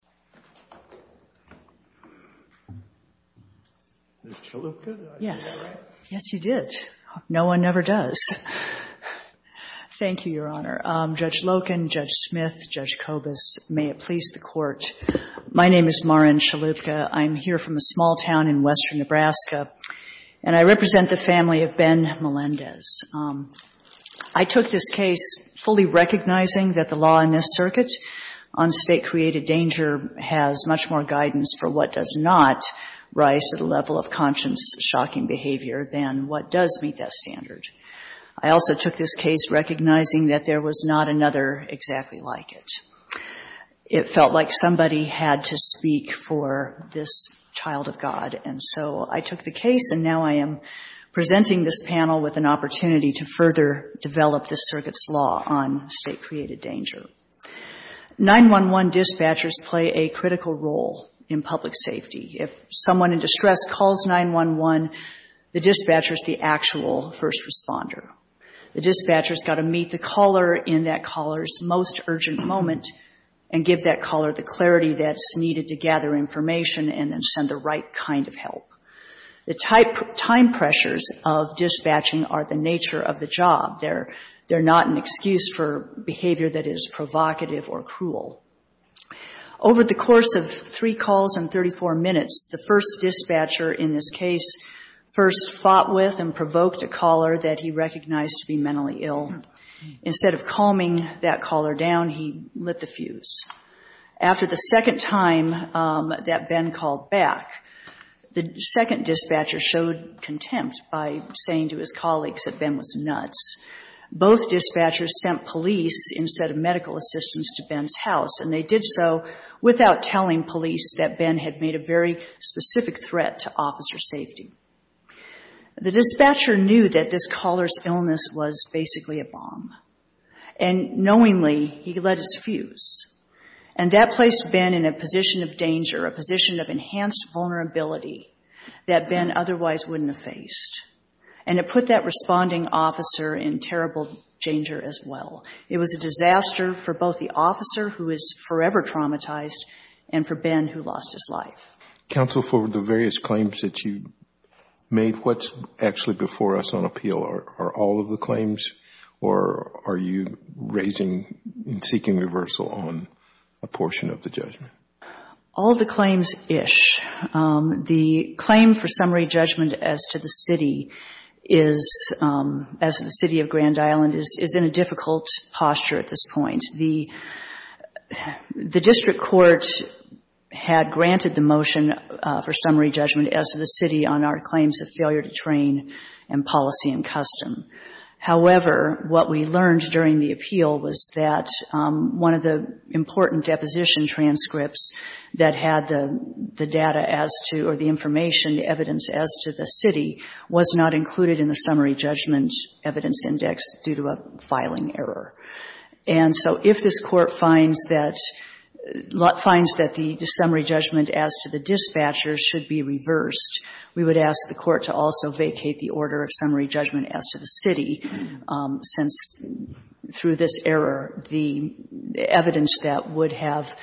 Mara Enchalouka, Assistant Attorney for the East Coast Justice Department No one ever does. Thank you, Your Honor. Judge Loken, Judge Smith, Judge Cobas, may it please the Court. My name is Mara Enchalouka. I'm here from a small town in Western Nebraska, and I represent the family of Ben Melendez. I took this case fully recognizing that the law in this circuit on state-created danger has much more guidance for what does not rise to the level of conscience-shocking behavior than what does meet that standard. I also took this case recognizing that there was not another exactly like it. It felt like somebody had to speak for this child of God, and so I took the case, and now I am presenting this panel with an opportunity to further develop this circuit's law on state-created danger. 911 dispatchers play a critical role in public safety. If someone in distress calls 911, the dispatcher is the actual first responder. The dispatcher has got to meet the caller in that caller's most urgent moment and give that caller the clarity that's needed to gather information and then send the right kind of help. The time pressures of dispatching are the nature of the job. They're not an excuse for behavior that is provocative or cruel. Over the course of three calls and 34 minutes, the first dispatcher in this case first fought with and provoked a caller that he recognized to be mentally ill. Instead of calming that caller down, he lit the fuse. After the second time that Ben called back, the second dispatcher showed contempt by saying to his colleagues that Ben was nuts. Both dispatchers sent police instead of medical assistance to Ben's house, and they did so without telling police that Ben had made a very specific threat to officer safety. The dispatcher knew that this caller's illness was basically a bomb, and knowingly, he lit his fuse. And that placed Ben in a position of danger, a position of enhanced vulnerability that Ben otherwise wouldn't have faced. And it put that responding officer in terrible danger as well. It was a disaster for both the officer, who was forever traumatized, and for Ben, who lost his life. Counsel, for the various claims that you made, what's actually before us on appeal? Are all of the claims, or are you raising and seeking reversal on a portion of the judgment? All of the claims-ish. The claim for summary judgment as to the city is, as the city of Grand Island is, is in a difficult posture at this point. The district court had granted the motion for summary judgment as to the city on our claims of failure to train and policy and custom. However, what we learned during the appeal was that one of the important deposition transcripts that had the data as to, or the information, the evidence as to the city, was not included in the summary judgment evidence index due to a filing error. And so if this Court finds that, finds that the summary judgment as to the dispatcher should be reversed, we would ask the Court to also vacate the order of summary judgment as to the city, since through this error, the evidence that would have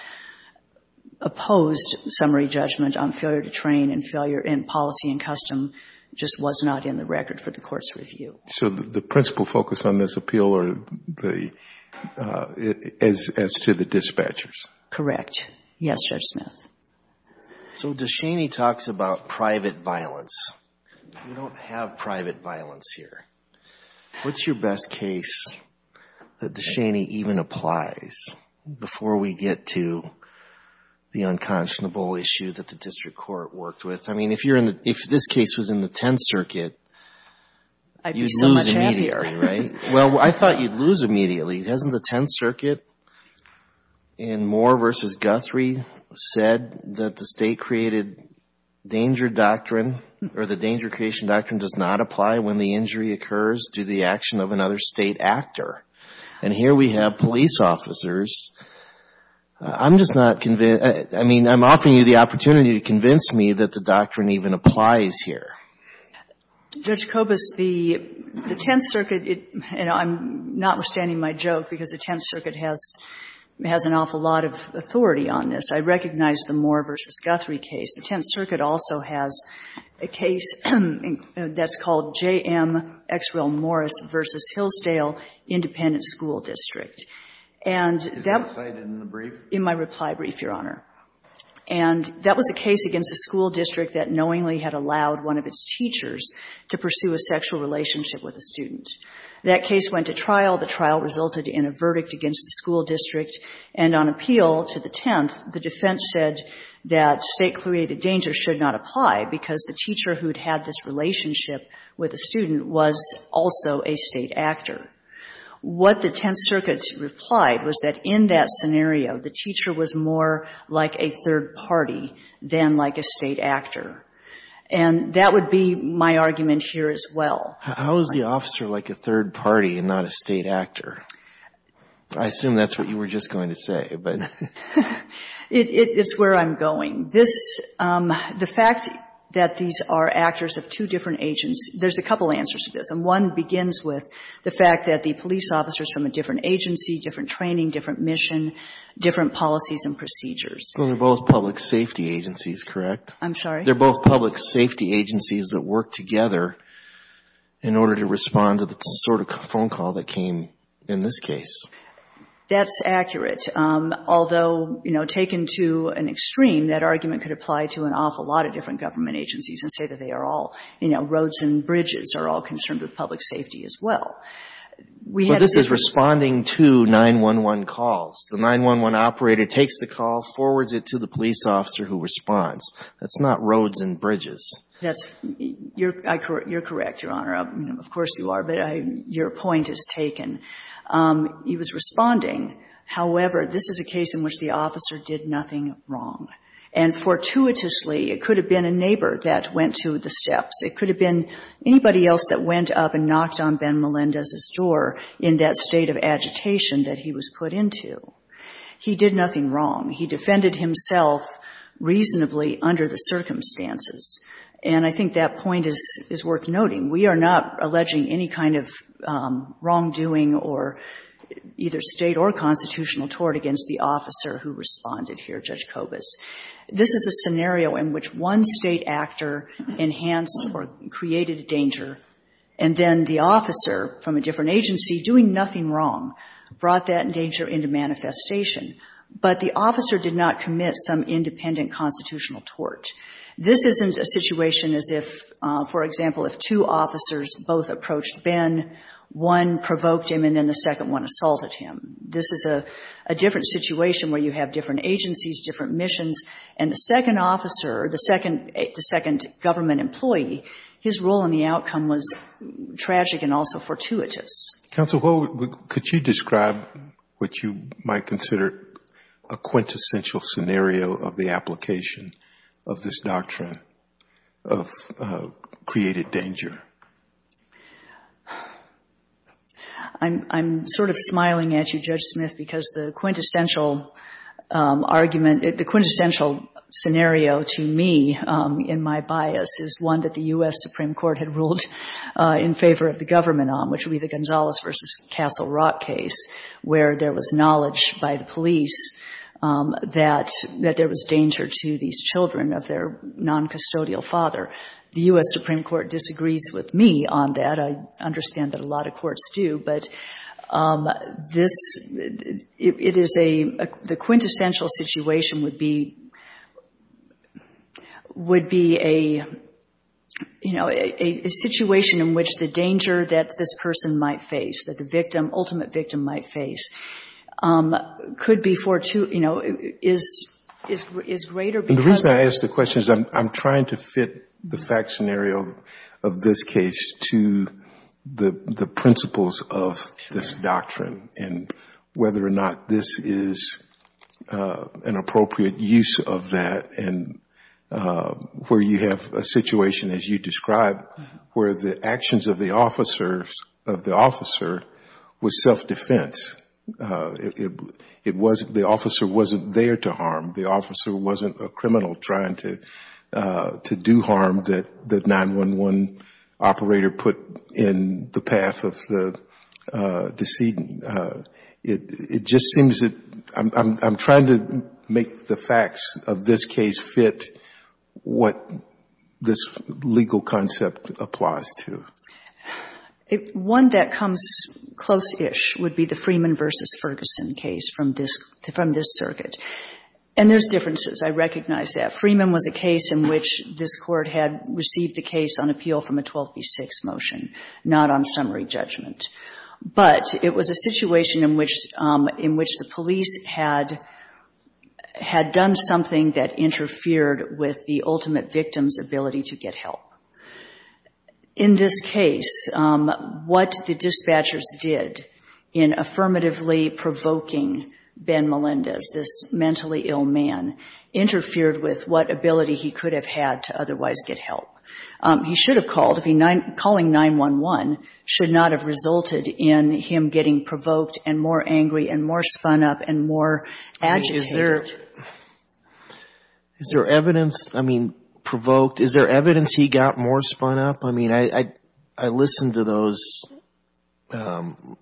opposed summary judgment on failure to train and failure in policy and custom just was not in the record for the Court's review. So the principal focus on this appeal are the, as to the dispatchers? Correct. Yes, Judge Smith. So DeShaney talks about private violence. We don't have private violence here. What's your best case that DeShaney even applies before we get to the unconscionable issue that the district court worked with? I mean, if you're in the, if this case was in the Tenth Circuit, you'd lose immediately, right? Well, I thought you'd lose immediately. Hasn't the Tenth Circuit in Moore v. Guthrie said that the state created danger doctrine, or the danger creation doctrine does not apply when the injury occurs due to the action of another state actor? And here we have police officers. I'm just not convinced, I mean, I'm offering you the opportunity to convince me that the doctrine even applies here. Judge Kobus, the Tenth Circuit, and I'm not withstanding my joke, because the Tenth Circuit has an awful lot of authority on this. I recognize the Moore v. Guthrie case. The Tenth Circuit also has a case that's called J.M. Exwell Morris v. Hillsdale Independent School District. And that was the case against a school district. A school district that knowingly had allowed one of its teachers to pursue a sexual relationship with a student. That case went to trial. The trial resulted in a verdict against the school district. And on appeal to the Tenth, the defense said that state created danger should not apply because the teacher who had had this relationship with a student was also a state actor. What the Tenth Circuit replied was that in that state actor. And that would be my argument here as well. How is the officer like a third party and not a state actor? I assume that's what you were just going to say, but... It's where I'm going. This, the fact that these are actors of two different agents, there's a couple answers to this. And one begins with the fact that the police officer is from a different agency, different training, different mission, different policies and procedures. They're both public safety agencies, correct? I'm sorry? They're both public safety agencies that work together in order to respond to the sort of phone call that came in this case. That's accurate. Although, you know, taken to an extreme, that argument could apply to an awful lot of different government agencies and say that they are all, you know, roads and bridges are all concerned with public safety as well. We had... He was responding to 911 calls. The 911 operator takes the call, forwards it to the police officer who responds. That's not roads and bridges. That's... You're correct, Your Honor. Of course you are, but your point is taken. He was responding. However, this is a case in which the officer did nothing wrong. And fortuitously, it could have been a neighbor that went to the steps. It could have been anybody else that went up and knocked on Ben Melendez's door in that state of agitation that he was put into. He did nothing wrong. He defended himself reasonably under the circumstances. And I think that point is worth noting. We are not alleging any kind of wrongdoing or either State or constitutional tort against the officer who responded here, Judge Kobus. This is a scenario in which one State actor enhanced or created danger, and then the officer from a different agency, doing nothing wrong, brought that danger into manifestation. But the officer did not commit some independent constitutional tort. This isn't a situation as if, for example, if two officers both approached Ben, one provoked him and then the second one assaulted him. This is a different situation where you have different agencies, different missions, and the second officer, the second government employee, his role in the outcome was tragic and also fortuitous. Counsel, could you describe what you might consider a quintessential scenario of the application of this doctrine of created danger? I'm sort of smiling at you, Judge Smith, because the quintessential argument, the quintessential scenario to me in my bias is one that the U.S. Supreme Court had ruled in favor of the government on, which would be the Gonzalez v. Castle Rock case, where there was knowledge by the police that there was danger to these children of their noncustodial father. The U.S. Supreme Court disagrees with me on that. I understand that a lot of courts do. But this, it is a, the quintessential situation would be, would be a, you know, a situation in which the danger that this person might face, that the victim, ultimate victim might face, could be fortuitous, you know, is, is greater because of... And the reason I ask the question is I'm trying to fit the fact scenario of this case to the principles of this doctrine and whether or not this is an appropriate use of that and where you have a situation, as you described, where the actions of the officers, of the officer was self-defense. It, it wasn't, the officer wasn't there to harm. The officer wasn't a criminal trying to, to do harm that, that 911 operator put in the path of the, of the decedent. It, it just seems that I'm, I'm, I'm trying to make the facts of this case fit what this legal concept applies to. One that comes close-ish would be the Freeman v. Ferguson case from this, from this circuit. And there's differences. I recognize that. Freeman was a case in which this Court had received the case on appeal from a 12B6 motion, not on summary judgment. But it was a situation in which, in which the police had, had done something that interfered with the ultimate victim's ability to get help. In this case, what the dispatchers did in affirmatively provoking Ben Melendez, this is a case in which the dispatchers did not get help. He should have called if he, calling 911 should not have resulted in him getting provoked and more angry and more spun up and more agitated. Is there, is there evidence, I mean, provoked, is there evidence he got more spun up? I mean, I, I, I listened to those,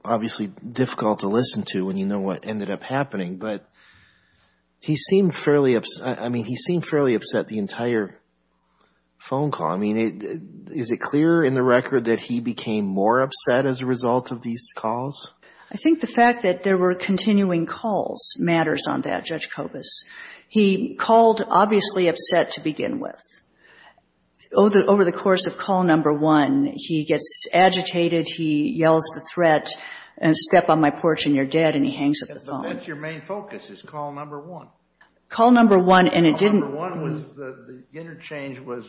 obviously difficult to listen to when you know what ended up happening. But he seemed fairly, I mean, he seemed fairly upset the entire phone call. I mean, is it clear in the record that he became more upset as a result of these calls? I think the fact that there were continuing calls matters on that, Judge Kobus. He called obviously upset to begin with. Over the course of call number one, he gets agitated, he yells the threat, step on my porch and you're dead, and he hangs up the phone. But that's your main focus, is call number one. Call number one and it didn't. Call number one was, the interchange was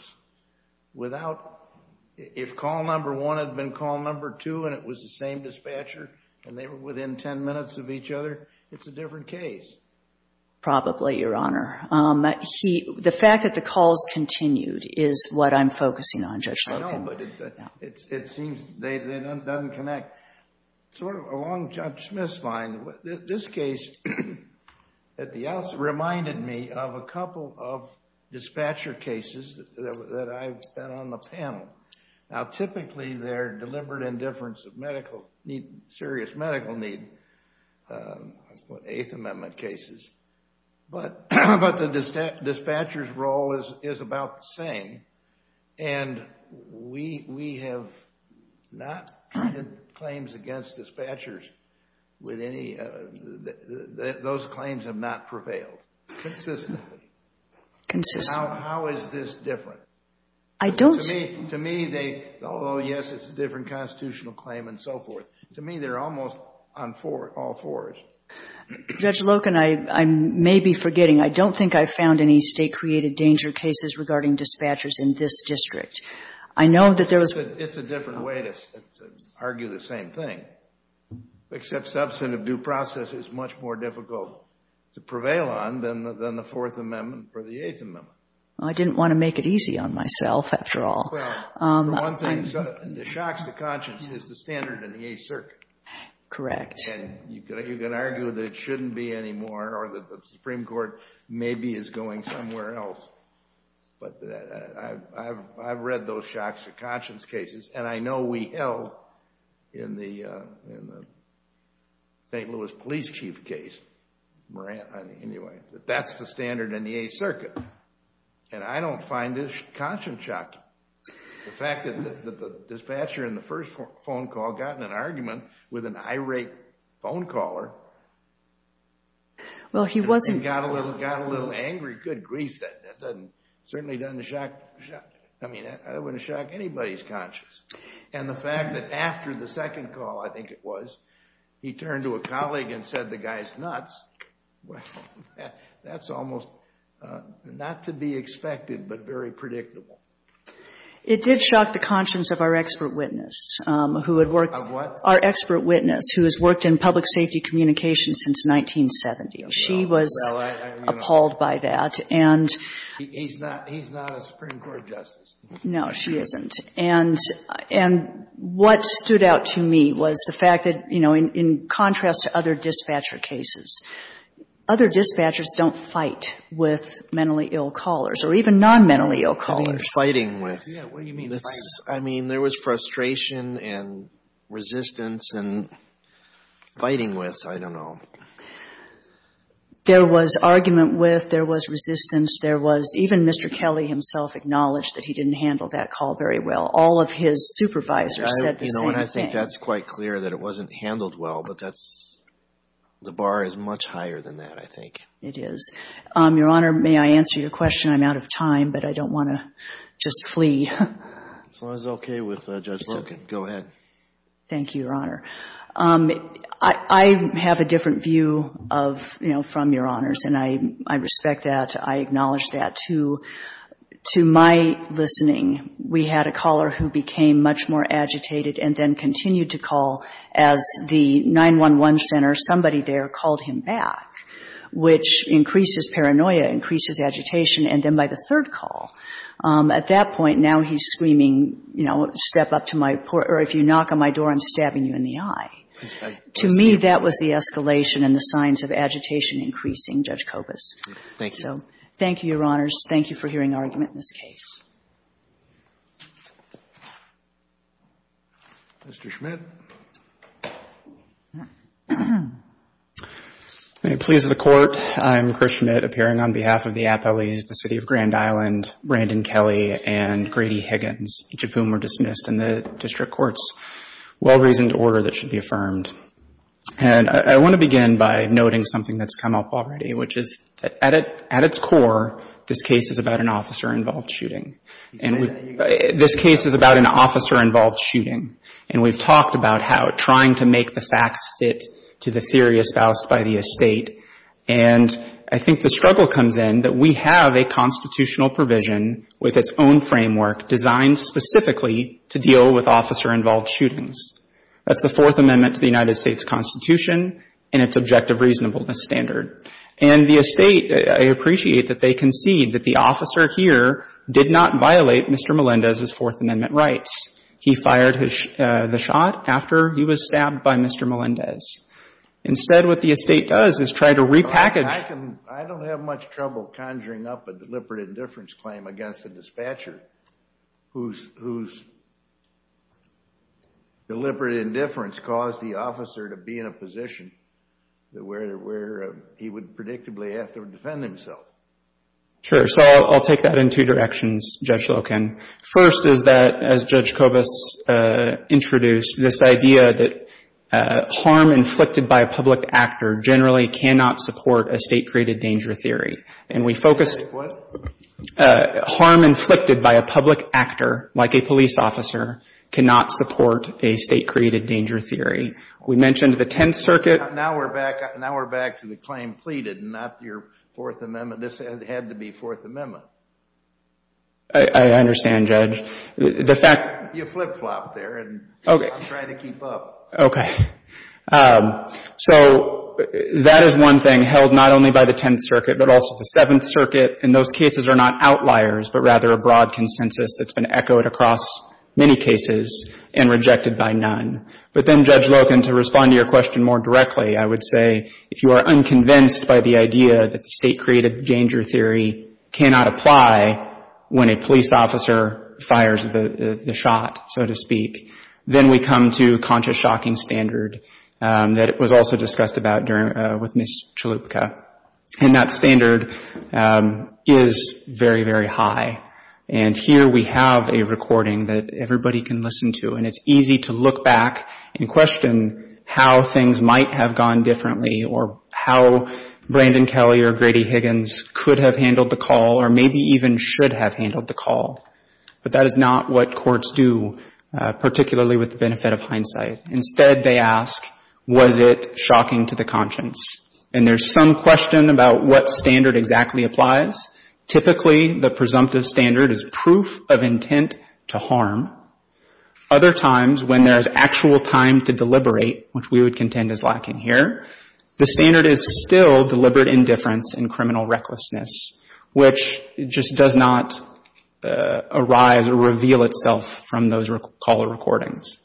without, if call number one had been call number two and it was the same dispatcher and they were within ten minutes of each other, it's a different case. Probably, Your Honor. He, the fact that the calls continued is what I'm focusing on, Judge Logan. I don't know, but it seems they didn't connect. Sort of along Judge Smith's line, this case at the outset reminded me of a couple of dispatcher cases that I've been on the panel. Now, typically they're deliberate indifference of medical need, serious medical need, Eighth Amendment cases. But the dispatcher's role is about the same and we have not had claims against dispatchers with any, those claims have not prevailed. Consistently. Consistently. How is this different? I don't. To me, although yes, it's a different constitutional claim and so forth, to me they're almost on all fours. Judge Logan, I may be forgetting, I don't think I've found any state-created danger cases regarding dispatchers in this district. I know that there was... It's a different way to argue the same thing, except substantive due process is much more difficult to prevail on than the Fourth Amendment or the Eighth Amendment. I didn't want to make it easy on myself, after all. Well, the one thing that shocks the conscience is the standard in the Eighth Circuit. Correct. And you can argue that it shouldn't be anymore or that the Supreme Court maybe is going somewhere else. But I've read those shocks to conscience cases and I know we held in the St. Louis police chief case, Moran, anyway, that that's the standard in the Eighth Circuit. And I don't find this conscience shocking. The fact that the dispatcher in the first phone call got in an argument with an irate phone caller... Well, he wasn't...... and got a little angry, good grief, that doesn't... certainly doesn't shock... I mean, that wouldn't shock anybody's conscience. And the fact that after the second call, I think it was, he turned to a colleague and said the guy's nuts, well, that's almost not to be expected but very predictable. It did shock the conscience of our expert witness who had worked... Of what? Our expert witness who has worked in public safety communication since 1970. She was... Well, I'm going to...... appalled by that. And... He's not a Supreme Court justice. No, she isn't. And what stood out to me was the fact that, you know, in contrast to other dispatcher cases, other dispatchers don't fight with mentally ill callers or even non-mentally ill callers. I mean, fighting with. Yeah, what do you mean fighting with? I mean, there was frustration and resistance and fighting with, I don't know. There was argument with, there was resistance, there was... even Mr. Kelly himself acknowledged that he didn't handle that call very well. All of his supervisors said the same thing. You know, and I think that's quite clear that it wasn't handled well, but that's... the bar is much higher than that, I think. It is. Your Honor, may I answer your question? I'm out of time, but I don't want to just flee. As long as it's okay with Judge Logan. Go ahead. Thank you, Your Honor. I have a different view of, you know, from Your Honors, and I respect that. I acknowledge that. To my listening, we had a caller who became much more agitated and then continued to call as the 911 center, somebody there, called him back, which increased his paranoia, increased his agitation, and then by the third call, at that point, now he's screaming, you know, step up to my porch or if you knock on my door, I'm stabbing you in the eye. To me, that was the escalation and the signs of agitation increasing, Judge Kobus. Thank you. Thank you, Your Honors. Thank you for hearing our argument in this case. Mr. Schmidt. May it please the Court, I'm Chris Schmidt, appearing on behalf of the appellees, the City of Grand Island, Brandon Kelly, and Grady Higgins, each of whom were dismissed in the district court's well-reasoned order that should be affirmed. And I want to begin by noting something that's come up already, which is that at its core, this case is about an officer-involved shooting. This case is about an officer-involved shooting, and we've talked about how trying to make the facts fit to the theory espoused by the estate, and I think the struggle comes in that we have a constitutional provision with its own framework designed specifically to deal with officer-involved shootings. That's the Fourth Amendment to the United States Constitution and its objective reasonableness standard. And the estate, I appreciate that they concede that the officer here did not violate Mr. Melendez's Fourth Amendment rights. He fired the shot after he was stabbed by Mr. Melendez. Instead, what the estate does is try to repackage I don't have much trouble conjuring up a deliberate indifference claim against a dispatcher whose deliberate indifference caused the officer to be in a position where he would predictably have to defend himself. Sure. So I'll take that in two directions, Judge Loken. First is that, as Judge Kobus introduced, this idea that harm inflicted by a public actor generally cannot support a state-created danger theory. And we focused What? Harm inflicted by a public actor, like a police officer, cannot support a state-created danger theory. We mentioned the Tenth Circuit. Now we're back to the claim pleaded and not your Fourth Amendment. This had to be Fourth Amendment. I understand, Judge. The fact You flip-flopped there and I'm trying to keep up. Okay. So that is one thing held not only by the Tenth Circuit, but also the Seventh Circuit. And those cases are not outliers, but rather a broad consensus that's been echoed across many cases and rejected by none. But then, Judge Loken, to respond to your question more directly, I would say, if you are unconvinced by the idea that the state-created danger theory cannot apply when a police officer fires the shot, so to speak, then we come to conscious shocking standard that was also discussed with Ms. Chalupka. And that standard is very, very high. And here we have a recording that everybody can listen to. And it's easy to look back and question how things might have gone differently or how Brandon Kelly or Grady Higgins could have handled the call or maybe even should have handled the call. But that is not what courts do, particularly with the benefit of hindsight. Instead, they ask, was it shocking to the conscience? And there's some question about what standard exactly applies. Typically, the presumptive standard is proof of intent to harm. Other times, when there's actual time to deliberate, which we would contend is lacking here, the standard is still deliberate indifference and criminal recklessness, which just does not arise or reveal itself from those caller recordings.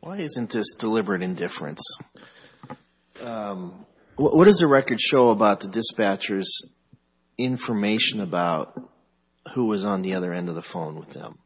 Why isn't this deliberate indifference? What does the record show about the dispatcher's information about who was on the other end of the phone with them?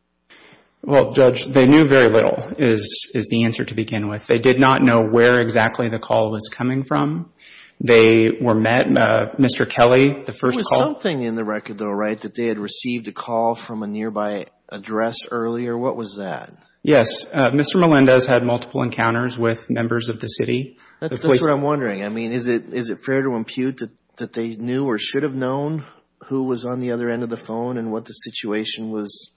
Well, Judge, they knew very little is the answer to begin with. They did not know where exactly the call was coming from. They were met, Mr. Kelly, the first call. There was something in the record, though, right, that they had received a call from a nearby address earlier. What was that? Yes. Mr. Melendez had multiple encounters with members of the city. That's what I'm wondering. I mean, is it fair to impute that they knew or should have known who was on the other end of the phone and what the situation was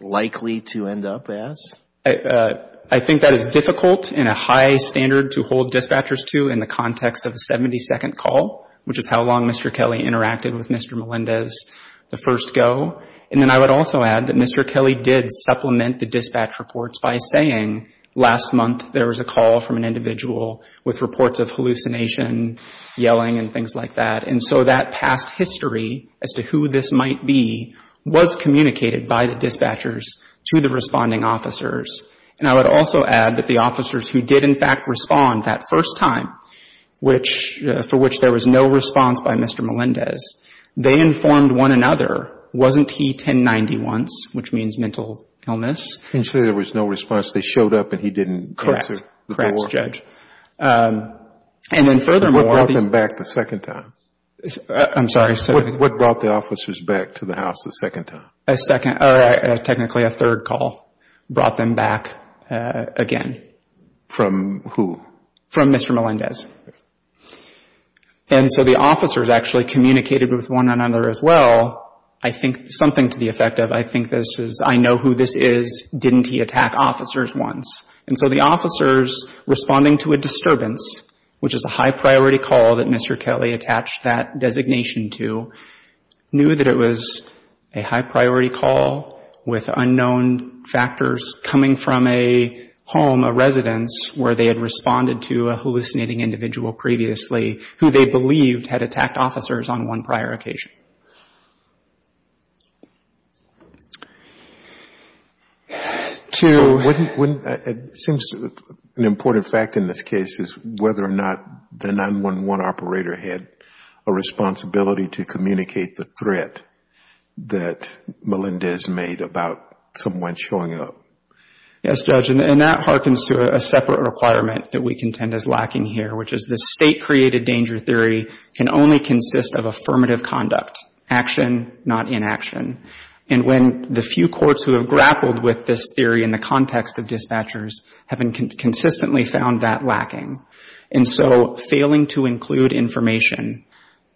likely to end up as? I think that is difficult in a high standard to hold dispatchers to in the context of a 72nd call, which is how long Mr. Kelly interacted with Mr. Melendez the first go. And then I would also add that Mr. Kelly did supplement the dispatch reports by saying last month there was a call from an individual with reports of hallucination, yelling, and things like that. And so that past history as to who this might be was communicated by the dispatchers to the responding officers. And I would also add that the officers who did, in fact, respond that first time, for which there was no response by Mr. Melendez, they informed one another, wasn't he 1090 once, which means mental illness? He said there was no response. They showed up and he didn't answer the door. Correct, Judge. And then furthermore. What brought them back the second time? I'm sorry. What brought the officers back to the house the second time? A second, or technically a third call brought them back again. From who? From Mr. Melendez. And so the officers actually communicated with one another as well. I think something to the effect of I think this is, I know who this is, didn't he attack officers once? And so the officers responding to a disturbance, which is a high-priority call that Mr. Kelly attached that designation to, knew that it was a high-priority call with unknown factors coming from a home, a residence, where they had responded to a hallucinating individual previously who they believed had attacked officers on one prior occasion. It seems an important fact in this case is whether or not the 911 operator had a responsibility to communicate the threat that Melendez made about someone showing up. Yes, Judge. And that hearkens to a separate requirement that we contend is lacking here, which is the state-created danger theory can only consist of affirmative conduct, action, not inaction. And when the few courts who have grappled with this theory in the context of dispatchers have consistently found that lacking. And so failing to include information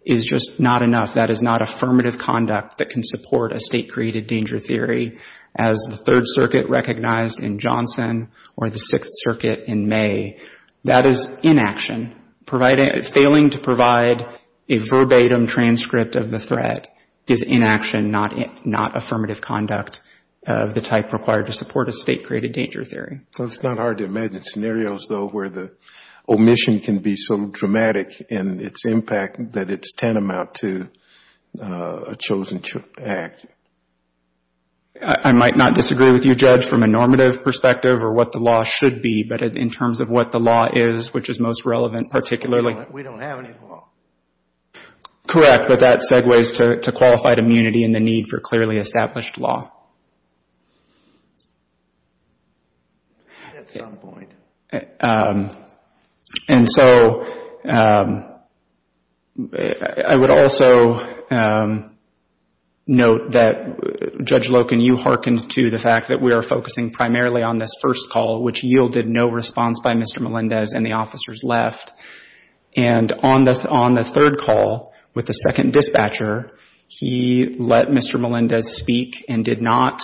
is just not enough. That is not affirmative conduct that can support a state-created danger theory as the Third Circuit recognized in Johnson or the Sixth Circuit in May. That is inaction. Failing to provide a verbatim transcript of the threat is inaction, not affirmative conduct of the type required to support a state-created danger theory. It's not hard to imagine scenarios, though, where the omission can be so dramatic in its impact that it's tantamount to a chosen act. I might not disagree with you, Judge, from a normative perspective or what the law should be, but in terms of what the law is, which is most relevant particularly. We don't have any law. Correct. But that segues to qualified immunity and the need for clearly established law. And so I would also note that, Judge Loken, you hearkened to the fact that we are focusing primarily on this first call, which yielded no response by Mr. Melendez and the officers left. And on the third call with the second dispatcher, he let Mr. Melendez speak and did not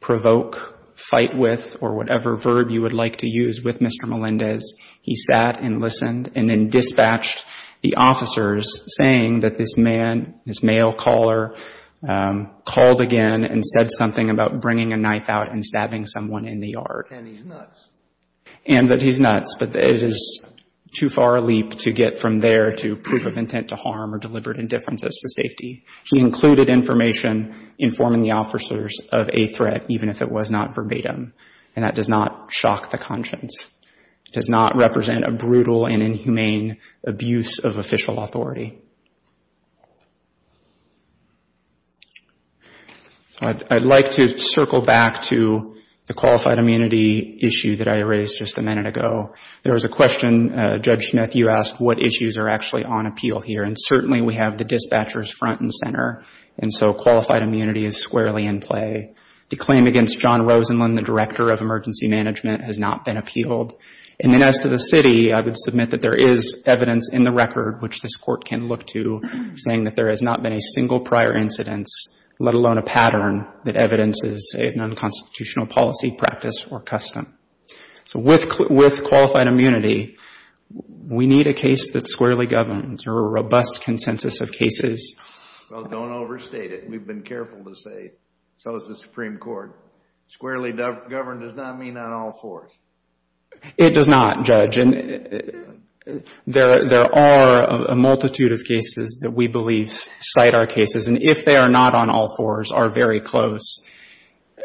provoke, fight with, or whatever verb you would like to use with Mr. Melendez. He sat and listened and then dispatched the officers saying that this man, this male caller, called again and said something about bringing a knife out and stabbing someone in the yard. And he's nuts. And that he's nuts, but it is too far a leap to get from there to proof of intent to harm or deliberate indifference as to safety. He included information informing the officers of a threat, even if it was not verbatim, and that does not shock the conscience. It does not represent a brutal and inhumane abuse of official authority. I'd like to circle back to the qualified immunity issue that I raised just a minute ago. There was a question, Judge Smith, you asked what issues are actually on appeal here, and certainly we have the dispatchers front and center, and so qualified immunity is squarely in play. The claim against John Rosenblum, the Director of Emergency Management, has not been appealed. And then as to the city, I would submit that there is evidence in the record, which this Court can look at. I would look to saying that there has not been a single prior incidence, let alone a pattern that evidences a non-constitutional policy, practice, or custom. So with qualified immunity, we need a case that's squarely governed or a robust consensus of cases. Well, don't overstate it. We've been careful to say so is the Supreme Court. Squarely governed does not mean on all fours. It does not, Judge. There are a multitude of cases that we believe cite our cases, and if they are not on all fours, are very close.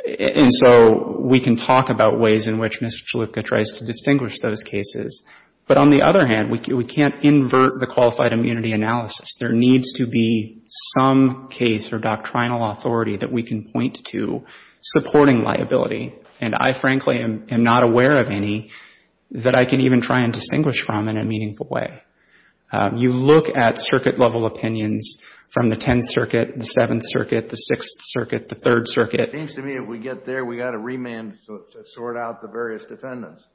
And so we can talk about ways in which Mr. Chalupka tries to distinguish those cases. But on the other hand, we can't invert the qualified immunity analysis. There needs to be some case or doctrinal authority that we can point to supporting liability. And I frankly am not aware of any that I can even try and distinguish from in a meaningful way. You look at circuit-level opinions from the Tenth Circuit, the Seventh Circuit, the Sixth Circuit, the Third Circuit. It seems to me if we get there, we've got to remand to sort out the various defendants.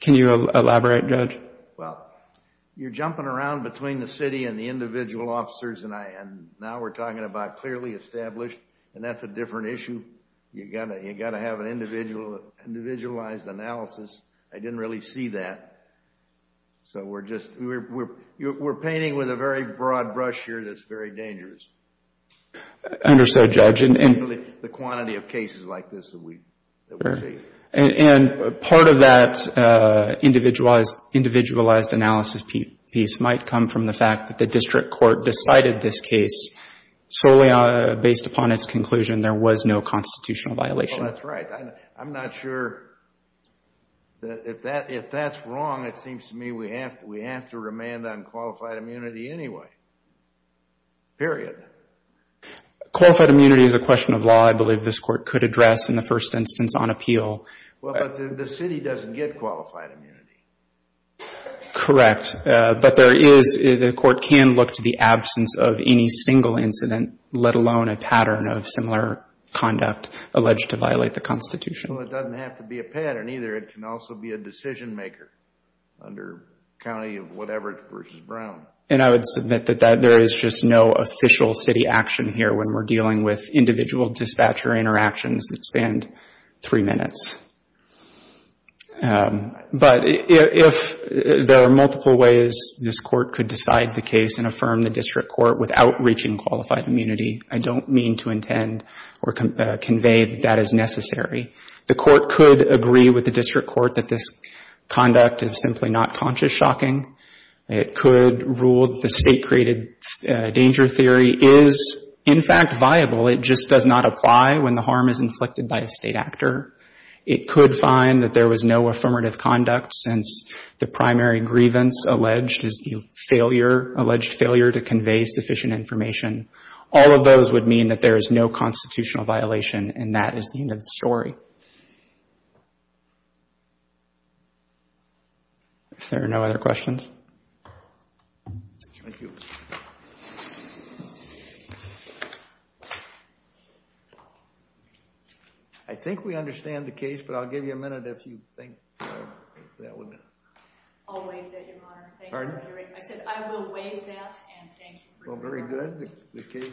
Can you elaborate, Judge? Well, you're jumping around between the city and the individual officers, and now we're talking about clearly established, and that's a different issue. You've got to have an individualized analysis. I didn't really see that. So we're painting with a very broad brush here that's very dangerous. Understood, Judge. The quantity of cases like this that we see. And part of that individualized analysis piece might come from the fact that the district court decided this case solely based upon its conclusion there was no constitutional violation. Well, that's right. I'm not sure that if that's wrong, it seems to me we have to remand on qualified immunity anyway. Period. Qualified immunity is a question of law. I believe this court could address in the first instance on appeal. Well, but the city doesn't get qualified immunity. Correct. But the court can look to the absence of any single incident, let alone a pattern of similar conduct alleged to violate the Constitution. Well, it doesn't have to be a pattern either. It can also be a decision-maker under county of whatever versus Brown. And I would submit that there is just no official city action here when we're dealing with individual dispatcher interactions that span three minutes. But if there are multiple ways this court could decide the case and affirm the district court without reaching qualified immunity, I don't mean to intend or convey that that is necessary. The court could agree with the district court that this conduct is simply not conscious shocking. It could rule that the state-created danger theory is, in fact, viable. It just does not apply when the harm is inflicted by a state actor. It could find that there was no affirmative conduct since the primary grievance alleged is the alleged failure to convey sufficient information. All of those would mean that there is no constitutional violation and that is the end of the story. If there are no other questions. Thank you. Thank you. I think we understand the case, but I'll give you a minute if you think that would... I'll waive that, Your Honor. Pardon? I said I will waive that and thank you. Well, very good.